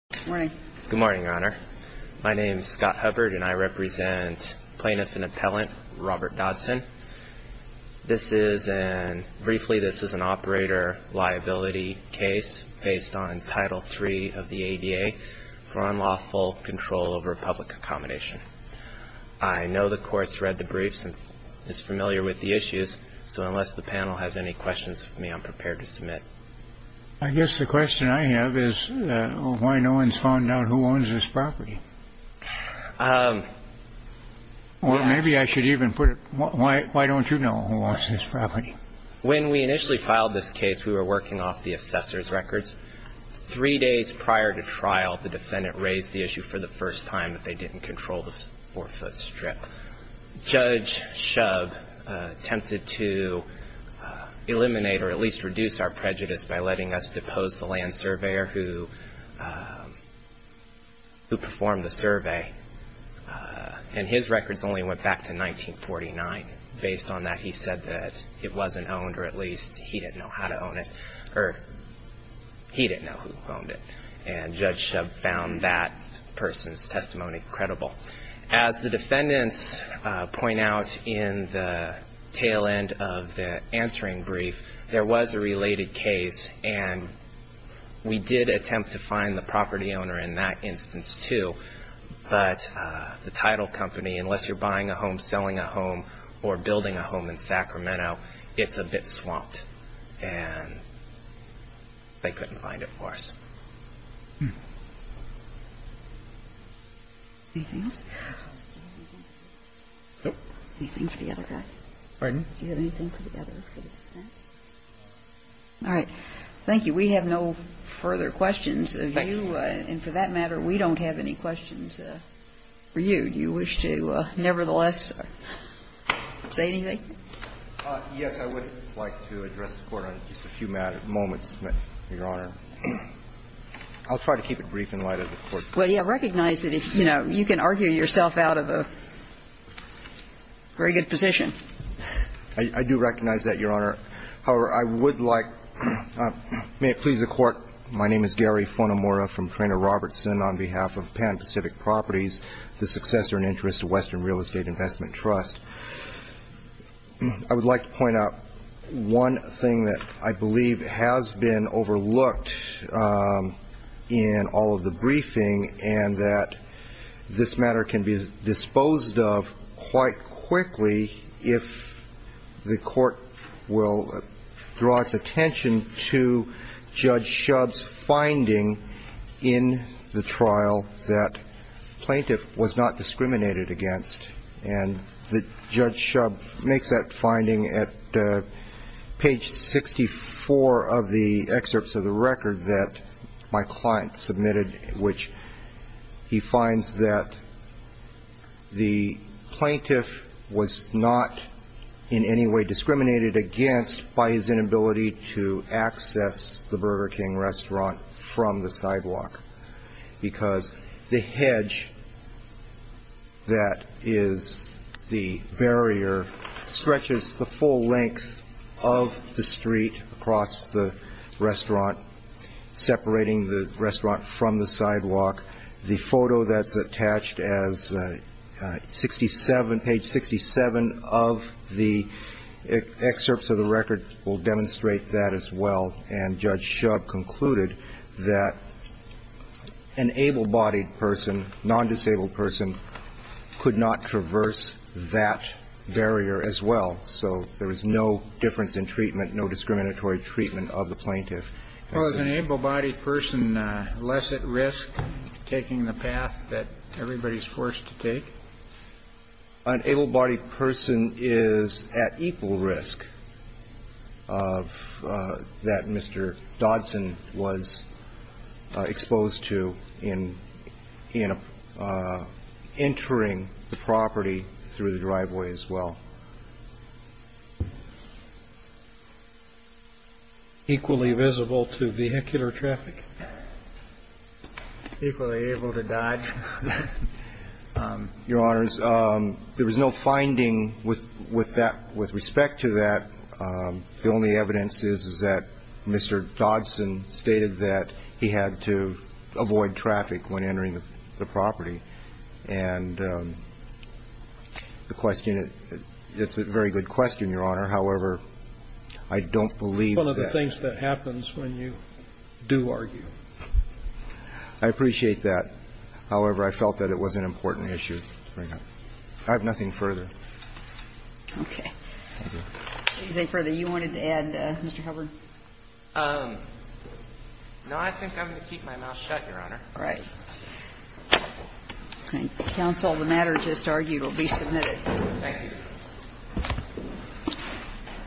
Good morning, Your Honor. My name is Scott Hubbard, and I represent Plaintiff and Appellant Robert Dodson. This is an operator liability case based on Title III of the ADA for unlawful control over public accommodation. I know the Court's read the briefs and is familiar with the issues, so unless the panel has any questions for me, I'm prepared to submit. I guess the question I have is why no one's found out who owns this property? Or maybe I should even put it, why don't you know who owns this property? When we initially filed this case, we were working off the assessor's records. Three days prior to trial, the defendant raised the issue for the first time that they didn't control the 4-foot strip. Judge Shub attempted to eliminate or at least reduce our prejudice by letting us depose the land surveyor who performed the survey. And his records only went back to 1949. Based on that, he said that it wasn't owned, or at least he didn't know how to own it, or he didn't know who owned it. And Judge Shub found that person's testimony credible. As the defendants point out in the tail end of the answering brief, there was a related case, and we did attempt to find the property owner in that instance, too. But the title company, unless you're buying a home, selling a home, or building a home in Sacramento, it's a bit swamped. And they couldn't find it for us. Anything else? Nope. Anything for the other guy? Pardon? Do you have anything for the other? All right. Thank you. We have no further questions of you. And for that matter, we don't have any questions for you. Do you wish to nevertheless say anything? Yes. I would like to address the Court on just a few moments, Your Honor. I'll try to keep it brief in light of the Court. Well, yeah. Recognize that, you know, you can argue yourself out of a very good position. I do recognize that, Your Honor. However, I would like to please the Court. My name is Gary Fonamora from Traynor Robertson on behalf of Pan Pacific Properties, the successor and interest of Western Real Estate Investment Trust. I would like to point out one thing that I believe has been overlooked in all of the briefing and that this matter can be disposed of quite quickly if the Court will draw its attention to Judge Shub's finding in the trial that plaintiff was not discriminated against, and Judge Shub makes that finding at page 64 of the excerpts of the record that my client submitted, which he finds that the plaintiff was not in any way discriminated against by his inability to access the Burger King restaurant from the sidewalk because the hedge that is the barrier stretches the full length of the street across the restaurant, separating the restaurant from the sidewalk. The photo that's attached as page 67 of the excerpts of the record will demonstrate that as well, and Judge Shub concluded that an able-bodied person, non-disabled person, could not traverse that barrier as well. So there was no difference in treatment, no discriminatory treatment of the plaintiff. Was an able-bodied person less at risk taking the path that everybody's forced to take? An able-bodied person is at equal risk of that non-disabled person taking the path that Mr. Dodson was exposed to in entering the property through the driveway as well. Equally visible to vehicular traffic. Your Honors, there was no finding with respect to that. The only evidence is that Mr. Dodson stated that he had to avoid traffic when entering the property. And the question, it's a very good question, Your Honor. However, I don't believe that. I appreciate that. However, I felt that it was an important issue to bring up. I have nothing further. Okay. Anything further you wanted to add, Mr. Hubbard? No, I think I'm going to keep my mouth shut, Your Honor. All right. Counsel, the matter just argued will be submitted. Thank you.